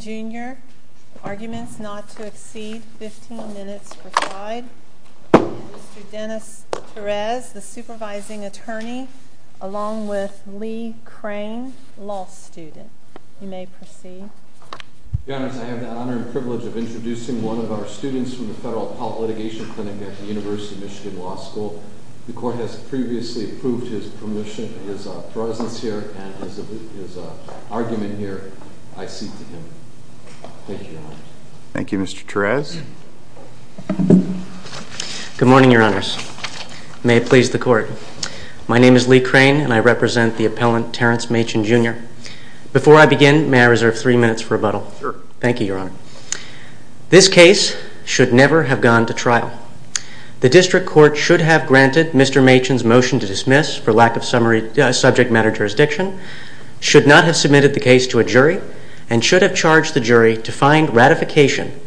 Jr., arguments not to exceed 15 minutes per side. Mr. Dennis Perez, the supervising attorney, along with Lee Crane, law student. You may proceed. Your Honors, I have the honor and privilege of introducing one of our students from the Federal Appellate Litigation Clinic at the University of Michigan Law School. The Court has previously approved his presence here and his argument here. I cede the floor to him. Thank you, Your Honors. Thank you, Mr. Perez. Good morning, Your Honors. May it please the Court. My name is Lee Crane, and I represent the appellant, Terrance Machen Jr. Before I begin, may I reserve three minutes for rebuttal? Sure. Thank you, Your Honor. This case should never have gone to trial. The District Court should have granted Mr. Machen's motion to dismiss for lack of subject matter jurisdiction, should not have submitted the case to a jury, and should have charged the jury to find ratification,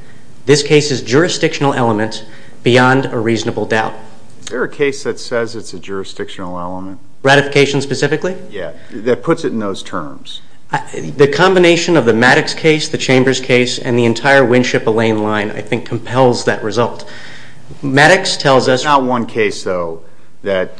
this case's jurisdictional element, beyond a reasonable doubt. Is there a case that says it's a jurisdictional element? Ratification specifically? Yeah, that puts it in those terms. The combination of the Maddox case, the Chambers case, and the entire Winship-Allen line, I think, compels that result. Maddox tells us... There's not one case, though, that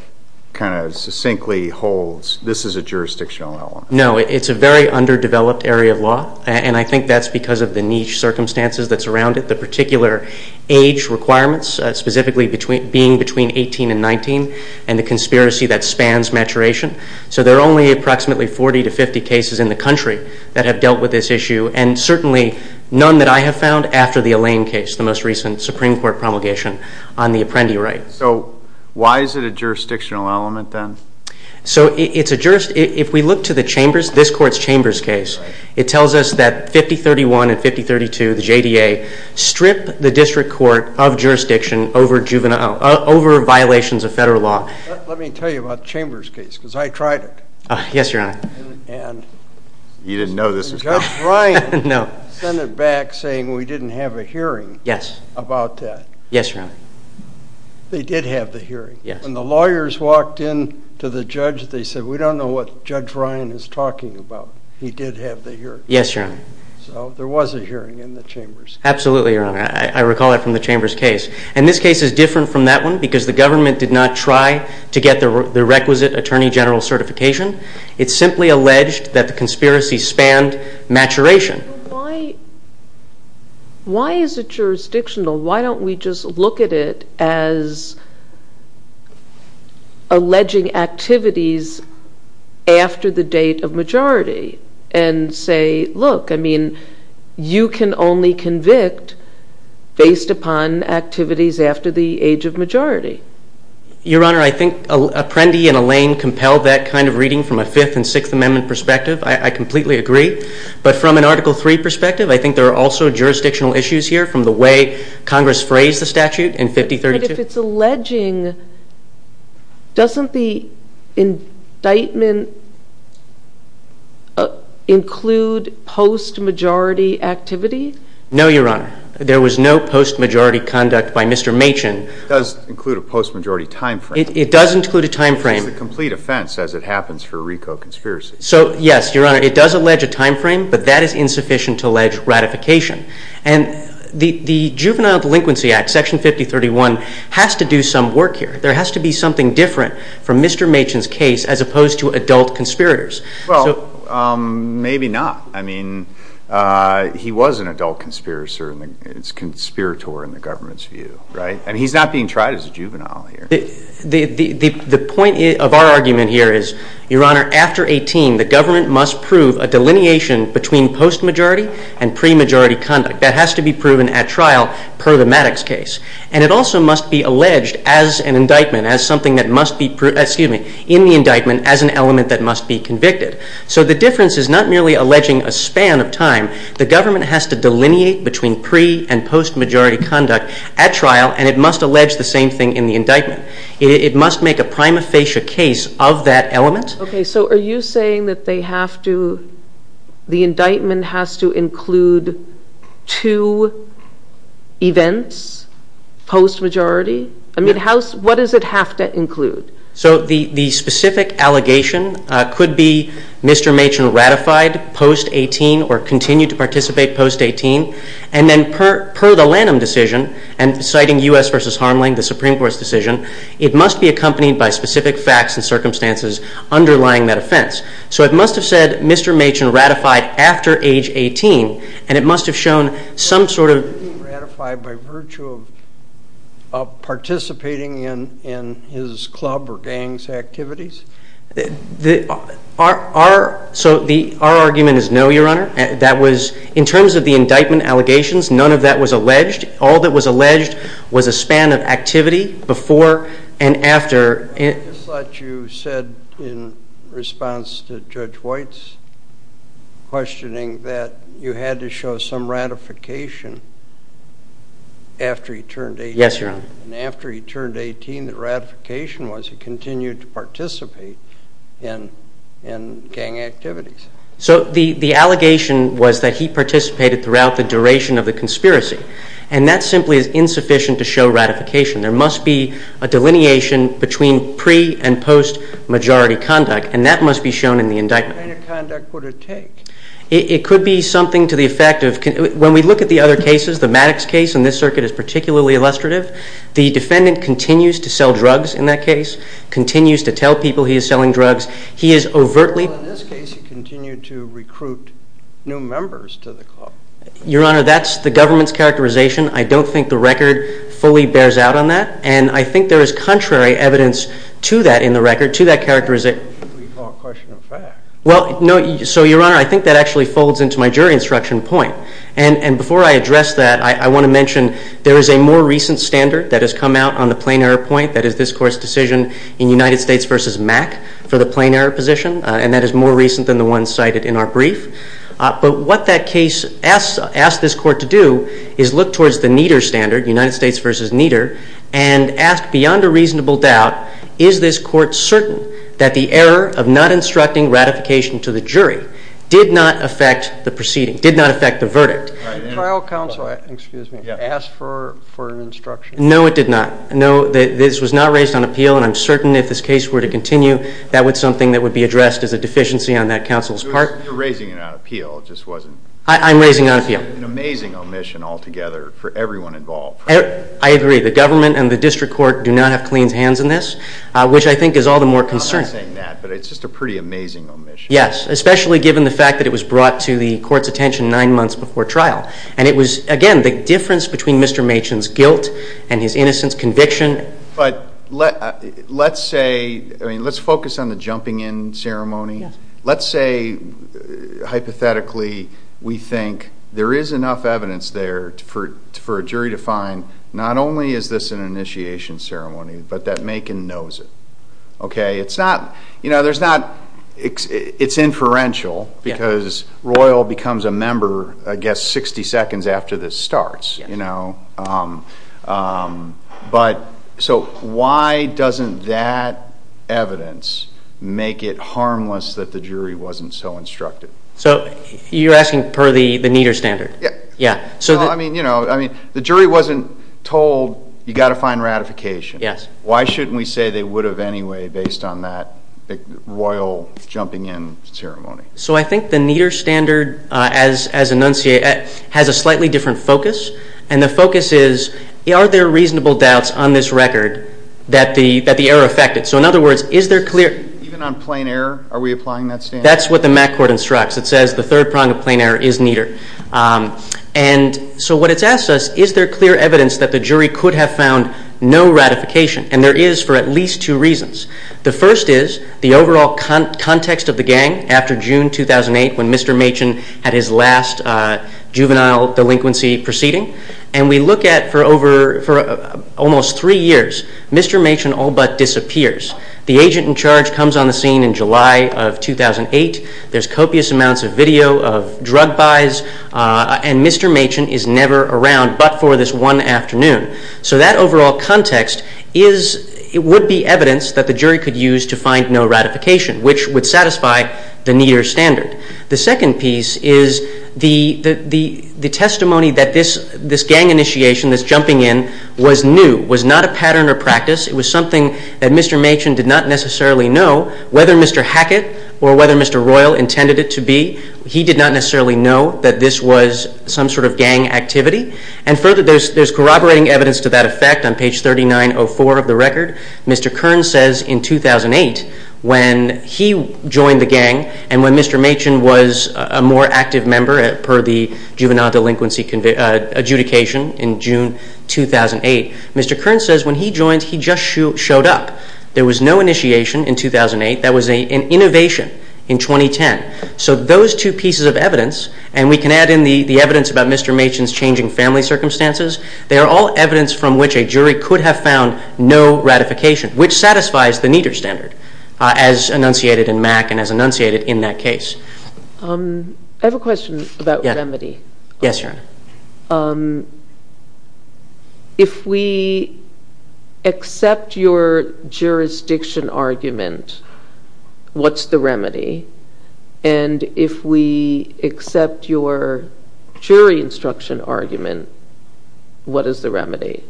kind of succinctly holds this is a jurisdictional element. No, it's a very underdeveloped area of law, and I think that's because of the niche circumstances that surround it, the particular age requirements, specifically being between 18 and 19, and the conspiracy that spans maturation. So there are only approximately 40 to 50 cases in the country that have dealt with this issue, and certainly none that I have found after the Allain case, the most recent Supreme Court promulgation on the Apprendi right. So why is it a jurisdictional element, then? If we look to this court's Chambers case, it tells us that 5031 and 5032, the JDA, strip the district court of jurisdiction over violations of federal law. Let me tell you about the Chambers case, because I tried it. Yes, Your Honor. You didn't know this was coming. Judge Ryan sent it back saying we didn't have a hearing about that. Yes, Your Honor. They did have the hearing. When the lawyers walked in to the judge, they said we don't know what Judge Ryan is talking about. He did have the hearing. Yes, Your Honor. So there was a hearing in the Chambers case. Absolutely, Your Honor. I recall that from the Chambers case. And this case is different from that one because the government did not try to get the requisite attorney general certification. It simply alleged that the conspiracy spanned maturation. Why is it jurisdictional? Why don't we just look at it as alleging activities after the date of majority and say, look, I mean, you can only convict based upon activities after the age of majority. Your Honor, I think Apprendi and Alain compelled that kind of reading from a Fifth and Sixth Amendment perspective. I completely agree. But from an Article III perspective, I think there are also jurisdictional issues here from the way Congress phrased the statute in 5032. But if it's alleging, doesn't the indictment include post-majority activity? No, Your Honor. There was no post-majority conduct by Mr. Machin. It does include a post-majority time frame. It does include a time frame. It's a complete offense as it happens for RICO conspiracies. So, yes, Your Honor, it does allege a time frame, but that is insufficient to allege ratification. And the Juvenile Delinquency Act, Section 5031, has to do some work here. There has to be something different from Mr. Machin's case as opposed to adult conspirators. Well, maybe not. I mean, he was an adult conspirator in the government's view, right? And he's not being tried as a juvenile here. The point of our argument here is, Your Honor, after 18, the government must prove a delineation between post-majority and pre-majority conduct. That has to be proven at trial per the Maddox case. And it also must be alleged as an indictment, as something that must be, excuse me, in the indictment as an element that must be convicted. So the difference is not merely alleging a span of time. The government has to delineate between pre- and post-majority conduct at trial, and it must allege the same thing in the indictment. It must make a prima facie case of that element. Okay. So are you saying that they have to, the indictment has to include two events, post-majority? I mean, what does it have to include? So the specific allegation could be Mr. Machin ratified post-18 or continued to participate post-18, and then per the Lanham decision, and citing U.S. v. Harmling, the Supreme Court's decision, it must be accompanied by specific facts and circumstances underlying that offense. So it must have said Mr. Machin ratified after age 18, and it must have shown some sort of Ratified by virtue of participating in his club or gang's activities? Our argument is no, Your Honor. In terms of the indictment allegations, none of that was alleged. All that was alleged was a span of activity before and after. I thought you said in response to Judge White's questioning that you had to show some ratification after he turned 18. Yes, Your Honor. And after he turned 18, the ratification was he continued to participate in gang activities. So the allegation was that he participated throughout the duration of the conspiracy, and that simply is insufficient to show ratification. There must be a delineation between pre- and post-majority conduct, and that must be shown in the indictment. What kind of conduct would it take? It could be something to the effect of, when we look at the other cases, the Maddox case in this circuit is particularly illustrative. The defendant continues to sell drugs in that case, continues to tell people he is selling drugs. He is overtly- Well, in this case, he continued to recruit new members to the club. Your Honor, that's the government's characterization. I don't think the record fully bears out on that, and I think there is contrary evidence to that in the record, to that characterization- We call it question of fact. Well, no, so Your Honor, I think that actually folds into my jury instruction point. And before I address that, I want to mention there is a more recent standard that has come out on the plain error point, that is this Court's decision in United States v. Mack for the plain error position, and that is more recent than the one cited in our brief. But what that case asks this Court to do is look towards the Nieder standard, United States v. Nieder, and ask beyond a reasonable doubt, is this Court certain that the error of not instructing ratification to the jury did not affect the proceeding, did not affect the verdict? The trial counsel asked for an instruction. No, it did not. No, this was not raised on appeal, and I'm certain if this case were to continue, that would be something that would be addressed as a deficiency on that counsel's part. You're raising it on appeal. It just wasn't- I'm raising it on appeal. It's an amazing omission altogether for everyone involved. I agree. The government and the district court do not have clean hands in this, which I think is all the more concerning. I'm not saying that, but it's just a pretty amazing omission. Yes, especially given the fact that it was brought to the Court's attention nine months before trial. And it was, again, the difference between Mr. Machen's guilt and his innocence conviction. But let's say, I mean, let's focus on the jumping in ceremony. Let's say, hypothetically, we think there is enough evidence there for a jury to find not only is this an initiation ceremony, but that Machen knows it. It's not-it's inferential because Royal becomes a member, I guess, 60 seconds after this starts. So why doesn't that evidence make it harmless that the jury wasn't so instructed? So you're asking per the Nieder standard? Yes. I mean, the jury wasn't told you've got to find ratification. Yes. Why shouldn't we say they would have anyway based on that Royal jumping in ceremony? So I think the Nieder standard, as enunciated, has a slightly different focus. And the focus is, are there reasonable doubts on this record that the error affected? So, in other words, is there clear- Even on plain error, are we applying that standard? That's what the MAC Court instructs. It says the third prong of plain error is Nieder. And so what it asks us, is there clear evidence that the jury could have found no ratification? And there is for at least two reasons. The first is the overall context of the gang after June 2008 when Mr. Machen had his last juvenile delinquency proceeding. And we look at, for over-for almost three years, Mr. Machen all but disappears. The agent in charge comes on the scene in July of 2008. There's copious amounts of video of drug buys, and Mr. Machen is never around but for this one afternoon. So that overall context is- It would be evidence that the jury could use to find no ratification, which would satisfy the Nieder standard. The second piece is the testimony that this gang initiation, this jumping in, was new, was not a pattern or practice. It was something that Mr. Machen did not necessarily know whether Mr. Hackett or whether Mr. Royal intended it to be. He did not necessarily know that this was some sort of gang activity. And further, there's corroborating evidence to that effect on page 3904 of the record. Mr. Kern says in 2008 when he joined the gang and when Mr. Machen was a more active member per the juvenile delinquency adjudication in June 2008, Mr. Kern says when he joined, he just showed up. There was no initiation in 2008. That was an innovation in 2010. So those two pieces of evidence, and we can add in the evidence about Mr. Machen's changing family circumstances, they are all evidence from which a jury could have found no ratification, which satisfies the Nieder standard, as enunciated in Mack and as enunciated in that case. I have a question about remedy. Yes, Your Honor. If we accept your jurisdiction argument, what's the remedy? And if we accept your jury instruction argument, what is the remedy?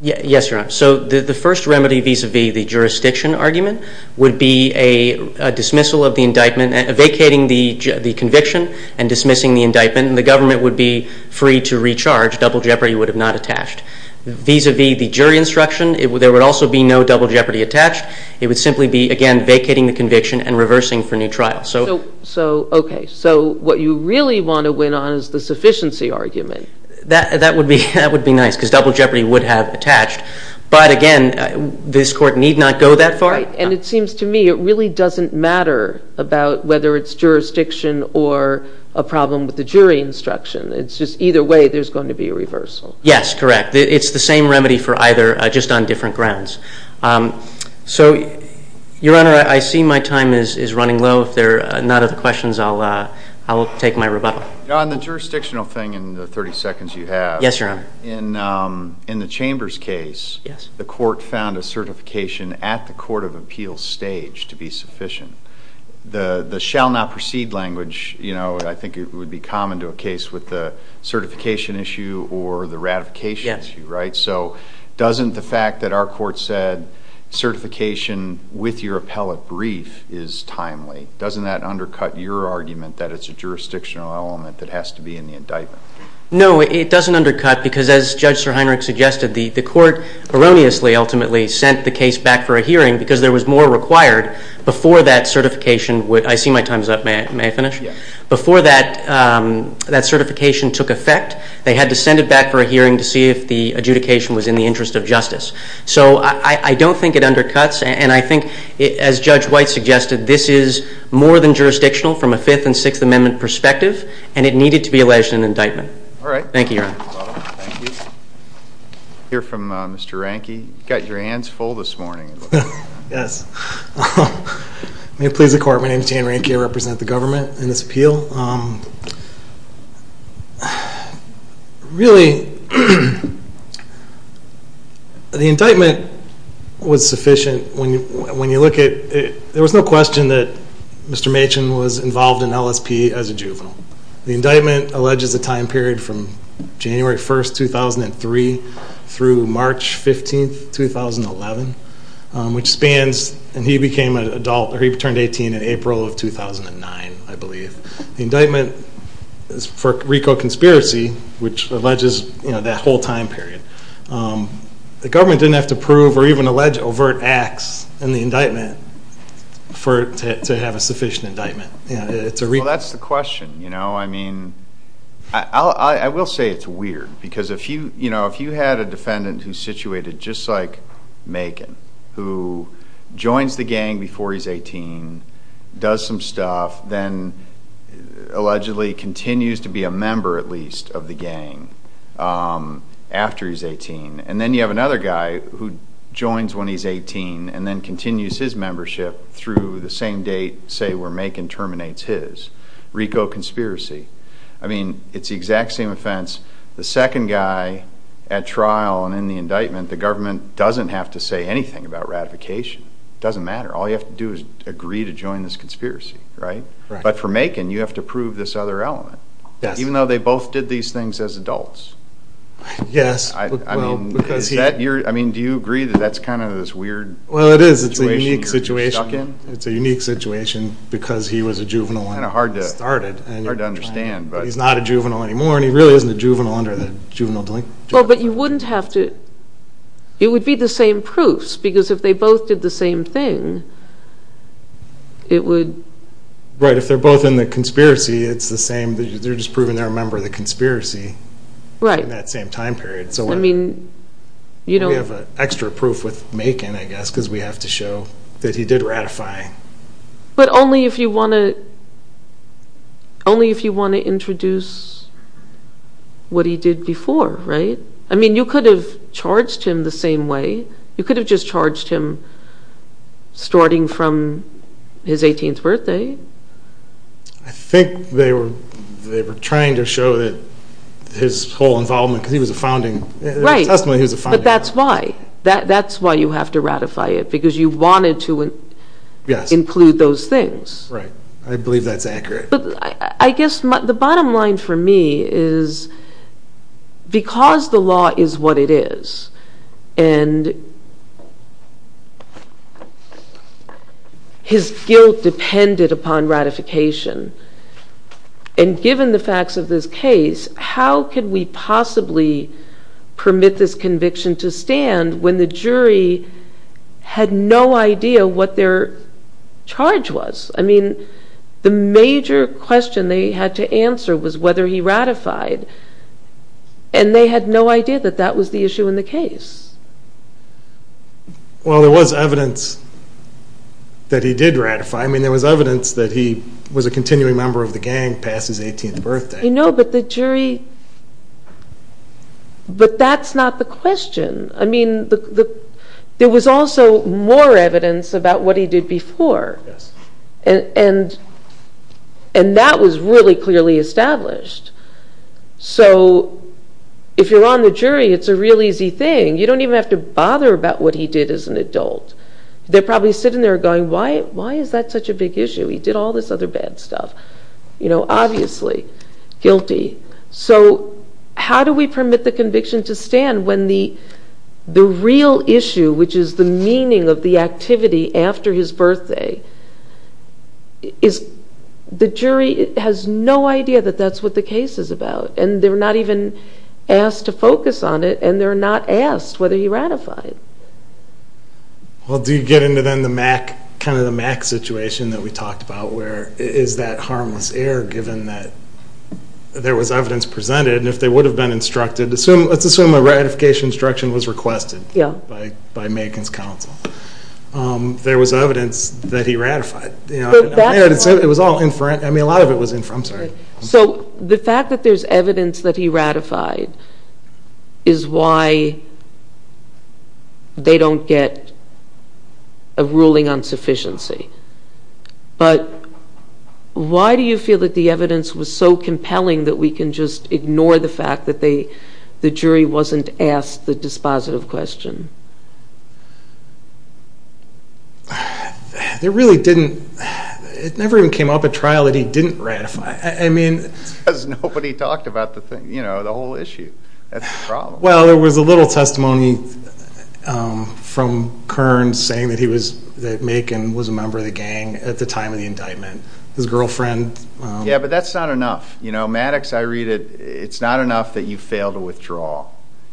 Yes, Your Honor. So the first remedy vis-à-vis the jurisdiction argument would be a dismissal of the indictment, vacating the conviction and dismissing the indictment. And then the government would be free to recharge. Double jeopardy would have not attached. Vis-à-vis the jury instruction, there would also be no double jeopardy attached. It would simply be, again, vacating the conviction and reversing for new trial. Okay. So what you really want to win on is the sufficiency argument. That would be nice because double jeopardy would have attached. But, again, this Court need not go that far. And it seems to me it really doesn't matter about whether it's jurisdiction or a problem with the jury instruction. It's just either way there's going to be a reversal. Yes, correct. It's the same remedy for either, just on different grounds. So, Your Honor, I see my time is running low. If there are none other questions, I'll take my rebuttal. On the jurisdictional thing in the 30 seconds you have. Yes, Your Honor. In the Chambers case, the Court found a certification at the court of appeal stage to be sufficient. The shall not proceed language, you know, I think it would be common to a case with the certification issue or the ratification issue, right? Yes. So doesn't the fact that our Court said certification with your appellate brief is timely, doesn't that undercut your argument that it's a jurisdictional element that has to be in the indictment? No, it doesn't undercut because as Judge Sir Heinrich suggested, the Court erroneously ultimately sent the case back for a hearing because there was more required before that certification would, I see my time is up. May I finish? Yes. Before that certification took effect, they had to send it back for a hearing to see if the adjudication was in the interest of justice. So I don't think it undercuts and I think as Judge White suggested, this is more than jurisdictional from a Fifth and Sixth Amendment perspective and it needed to be alleged in an indictment. All right. Thank you, Your Honor. Thank you. We'll hear from Mr. Ranke. You've got your hands full this morning. Yes. May it please the Court, my name is Dan Ranke. I represent the government in this appeal. Really, the indictment was sufficient when you look at it. There was no question that Mr. Machen was involved in LSP as a juvenile. The indictment alleges a time period from January 1, 2003 through March 15, 2011, which spans, and he became an adult, or he turned 18 in April of 2009, I believe. The indictment is for RICO conspiracy, which alleges that whole time period. The government didn't have to prove or even allege overt acts in the indictment to have a sufficient indictment. Well, that's the question. I will say it's weird because if you had a defendant who's situated just like Machen, who joins the gang before he's 18, does some stuff, then allegedly continues to be a member, at least, of the gang after he's 18. And then you have another guy who joins when he's 18 and then continues his membership through the same date, say, where Machen terminates his. RICO conspiracy. I mean, it's the exact same offense. The second guy at trial and in the indictment, the government doesn't have to say anything about ratification. It doesn't matter. All you have to do is agree to join this conspiracy, right? But for Machen, you have to prove this other element, even though they both did these things as adults. Yes. I mean, do you agree that that's kind of this weird situation you're stuck in? Well, it is. It's a unique situation because he was a juvenile when it started. Kind of hard to understand. He's not a juvenile anymore, and he really isn't a juvenile under the juvenile delinquent. Well, but you wouldn't have to. It would be the same proofs because if they both did the same thing, it would... Right. If they're both in the conspiracy, it's the same. They're just proving they're a member of the conspiracy in that same time period. I mean, you know... We have an extra proof with Machen, I guess, because we have to show that he did ratify. But only if you want to introduce what he did before, right? I mean, you could have charged him the same way. You could have just charged him starting from his 18th birthday. I think they were trying to show that his whole involvement, because he was a founding... Right. In the testimony, he was a founding member. But that's why. That's why you have to ratify it because you wanted to include those things. Right. I believe that's accurate. I guess the bottom line for me is because the law is what it is and his guilt depended upon ratification, and given the facts of this case, how could we possibly permit this conviction to stand when the jury had no idea what their charge was? I mean, the major question they had to answer was whether he ratified, and they had no idea that that was the issue in the case. Well, there was evidence that he did ratify. I mean, there was evidence that he was a continuing member of the gang past his 18th birthday. I know, but the jury... But that's not the question. I mean, there was also more evidence about what he did before, and that was really clearly established. So if you're on the jury, it's a real easy thing. You don't even have to bother about what he did as an adult. They're probably sitting there going, why is that such a big issue? He did all this other bad stuff. Obviously, guilty. So how do we permit the conviction to stand when the real issue, which is the meaning of the activity after his birthday, the jury has no idea that that's what the case is about, and they're not even asked to focus on it, and they're not asked whether he ratified. Well, do you get into then kind of the Mac situation that we talked about where is that harmless error given that there was evidence presented, and if they would have been instructed... Let's assume a ratification instruction was requested by Macon's counsel. There was evidence that he ratified. It was all inferent. I mean, a lot of it was inferent. I'm sorry. So the fact that there's evidence that he ratified is why they don't get a ruling on sufficiency. But why do you feel that the evidence was so compelling that we can just ignore the fact that the jury wasn't asked the dispositive question? There really didn't... It never even came up at trial that he didn't ratify. I mean... Because nobody talked about the thing, you know, the whole issue. That's the problem. Well, there was a little testimony from Kearns saying that Macon was a member of the gang at the time of the indictment. His girlfriend... Yeah, but that's not enough. You know, Maddox, I read it... It's not enough that you fail to withdraw.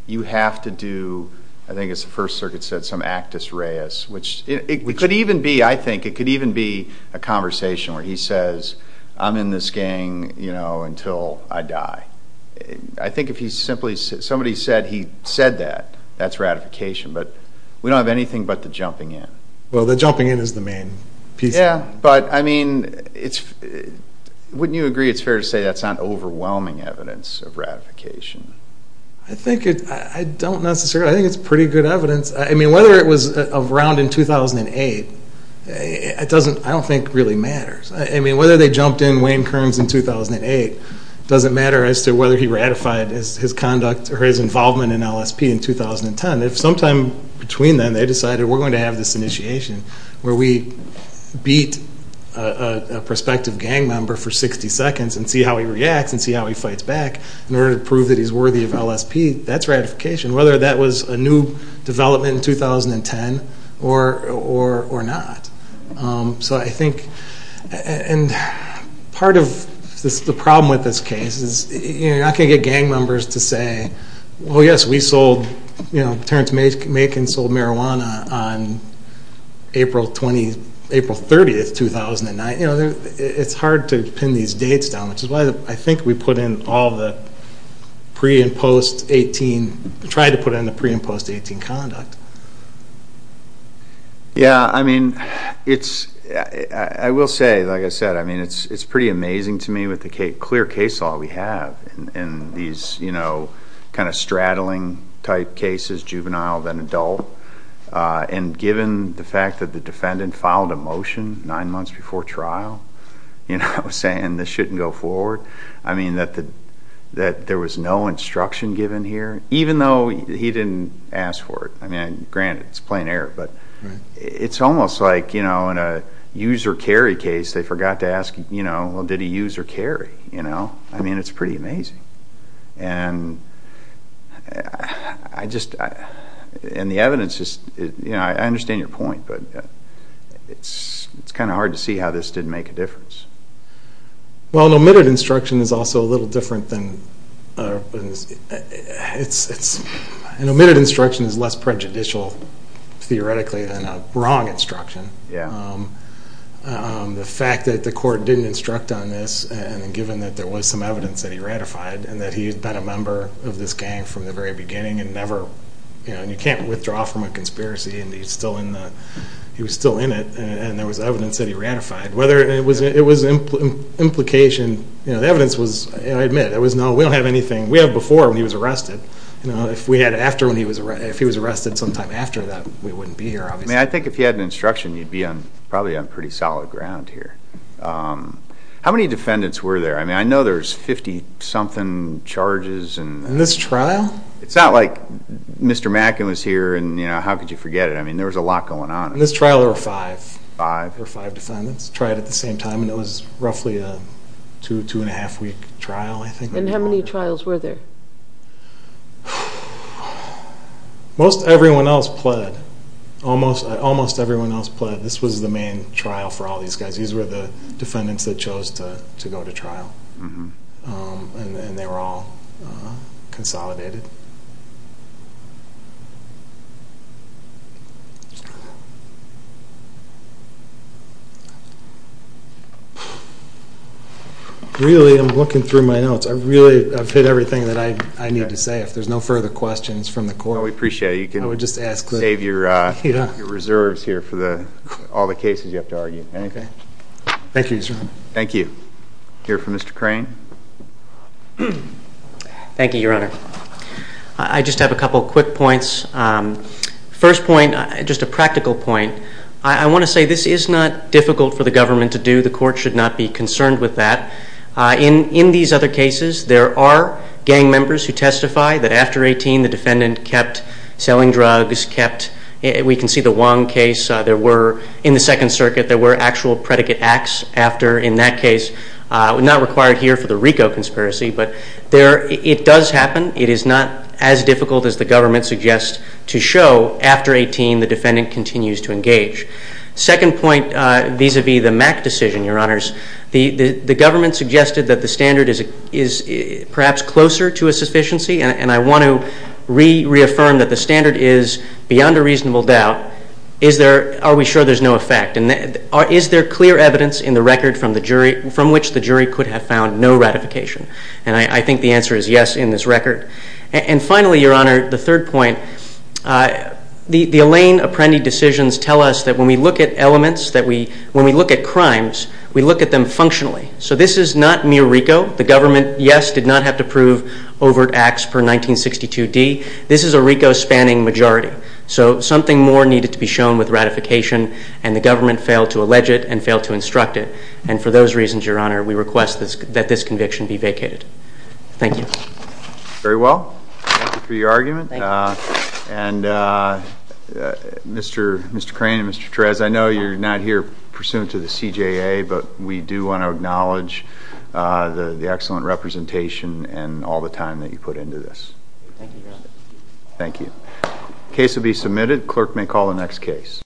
You have to do, I think it's the First Circuit said, some actus reus. It could even be, I think, it could even be a conversation where he says, I'm in this gang, you know, until I die. I think if somebody said he said that, that's ratification. But we don't have anything but the jumping in. Well, the jumping in is the main piece. Yeah, but, I mean, wouldn't you agree it's fair to say that's not overwhelming evidence of ratification? I think it's pretty good evidence. I mean, whether it was around in 2008, I don't think really matters. I mean, whether they jumped in, Wayne Kearns in 2008, doesn't matter as to whether he ratified his conduct or his involvement in LSP in 2010. If sometime between then they decided we're going to have this initiation where we beat a prospective gang member for 60 seconds and see how he reacts and see how he fights back in order to prove that he's worthy of LSP, that's ratification, whether that was a new development in 2010 or not. So I think, and part of the problem with this case is, you're not going to get gang members to say, well, yes, Terrence Makin sold marijuana on April 30, 2009. It's hard to pin these dates down, which is why I think we put in all the pre- and post-18, tried to put in the pre- and post-18 conduct. Yeah, I mean, I will say, like I said, I mean, it's pretty amazing to me with the clear case law we have and these kind of straddling type cases, juvenile then adult, and given the fact that the defendant filed a motion nine months before trial, saying this shouldn't go forward, I mean, that there was no instruction given here, even though he didn't ask for it. I mean, granted, it's plain error, but it's almost like in a use or carry case they forgot to ask, well, did he use or carry? You know? I mean, it's pretty amazing. And I just, and the evidence is, you know, I understand your point, but it's kind of hard to see how this didn't make a difference. Well, an omitted instruction is also a little different than, an omitted instruction is less prejudicial theoretically than a wrong instruction. Yeah. The fact that the court didn't instruct on this, and given that there was some evidence that he ratified and that he had been a member of this gang from the very beginning and never, you know, you can't withdraw from a conspiracy and he's still in the, he was still in it, and there was evidence that he ratified. Whether it was implication, you know, the evidence was, I admit, there was no, we don't have anything, we have before when he was arrested. You know, if we had after when he was, if he was arrested sometime after that, we wouldn't be here, obviously. I mean, I think if you had an instruction, you'd be on, probably on pretty solid ground here. How many defendants were there? I mean, I know there's 50-something charges. In this trial? It's not like Mr. Mackin was here and, you know, how could you forget it? I mean, there was a lot going on. In this trial there were five. Five? There were five defendants tried at the same time, and it was roughly a two, two-and-a-half-week trial, I think. And how many trials were there? Most everyone else pled. Almost everyone else pled. This was the main trial for all these guys. These were the defendants that chose to go to trial. And they were all consolidated. Really, I'm looking through my notes. I really have hit everything that I need to say. If there's no further questions from the court. No, we appreciate it. You can save your reserves here for all the cases you have to argue. Okay. Thank you, Your Honor. Thank you. Hear from Mr. Crane? Thank you, Your Honor. I just have a couple quick points. First point, just a practical point, I want to say this is not difficult for the government to do. The court should not be concerned with that. In these other cases, there are gang members who testify that after 18, the defendant kept selling drugs, kept, we can see the Wong case. There were, in the Second Circuit, there were actual predicate acts after, in that case, not required here for the RICO conspiracy. But it does happen. It is not as difficult as the government suggests to show after 18, the defendant continues to engage. Second point vis-à-vis the Mack decision, Your Honors, the government suggested that the standard is perhaps closer to a sufficiency, and I want to reaffirm that the standard is beyond a reasonable doubt. Are we sure there's no effect? And is there clear evidence in the record from which the jury could have found no ratification? And I think the answer is yes in this record. And finally, Your Honor, the third point, the Alain Apprendi decisions tell us that when we look at elements, that when we look at crimes, we look at them functionally. So this is not mere RICO. The government, yes, did not have to prove overt acts per 1962D. This is a RICO-spanning majority. So something more needed to be shown with ratification, and the government failed to allege it and failed to instruct it. And for those reasons, Your Honor, we request that this conviction be vacated. Thank you. Very well. Thank you for your argument. Thank you. And Mr. Crane and Mr. Therese, I know you're not here pursuant to the CJA, but we do want to acknowledge the excellent representation and all the time that you put into this. Thank you, Your Honor. Thank you. Case will be submitted. Clerk may call the next case.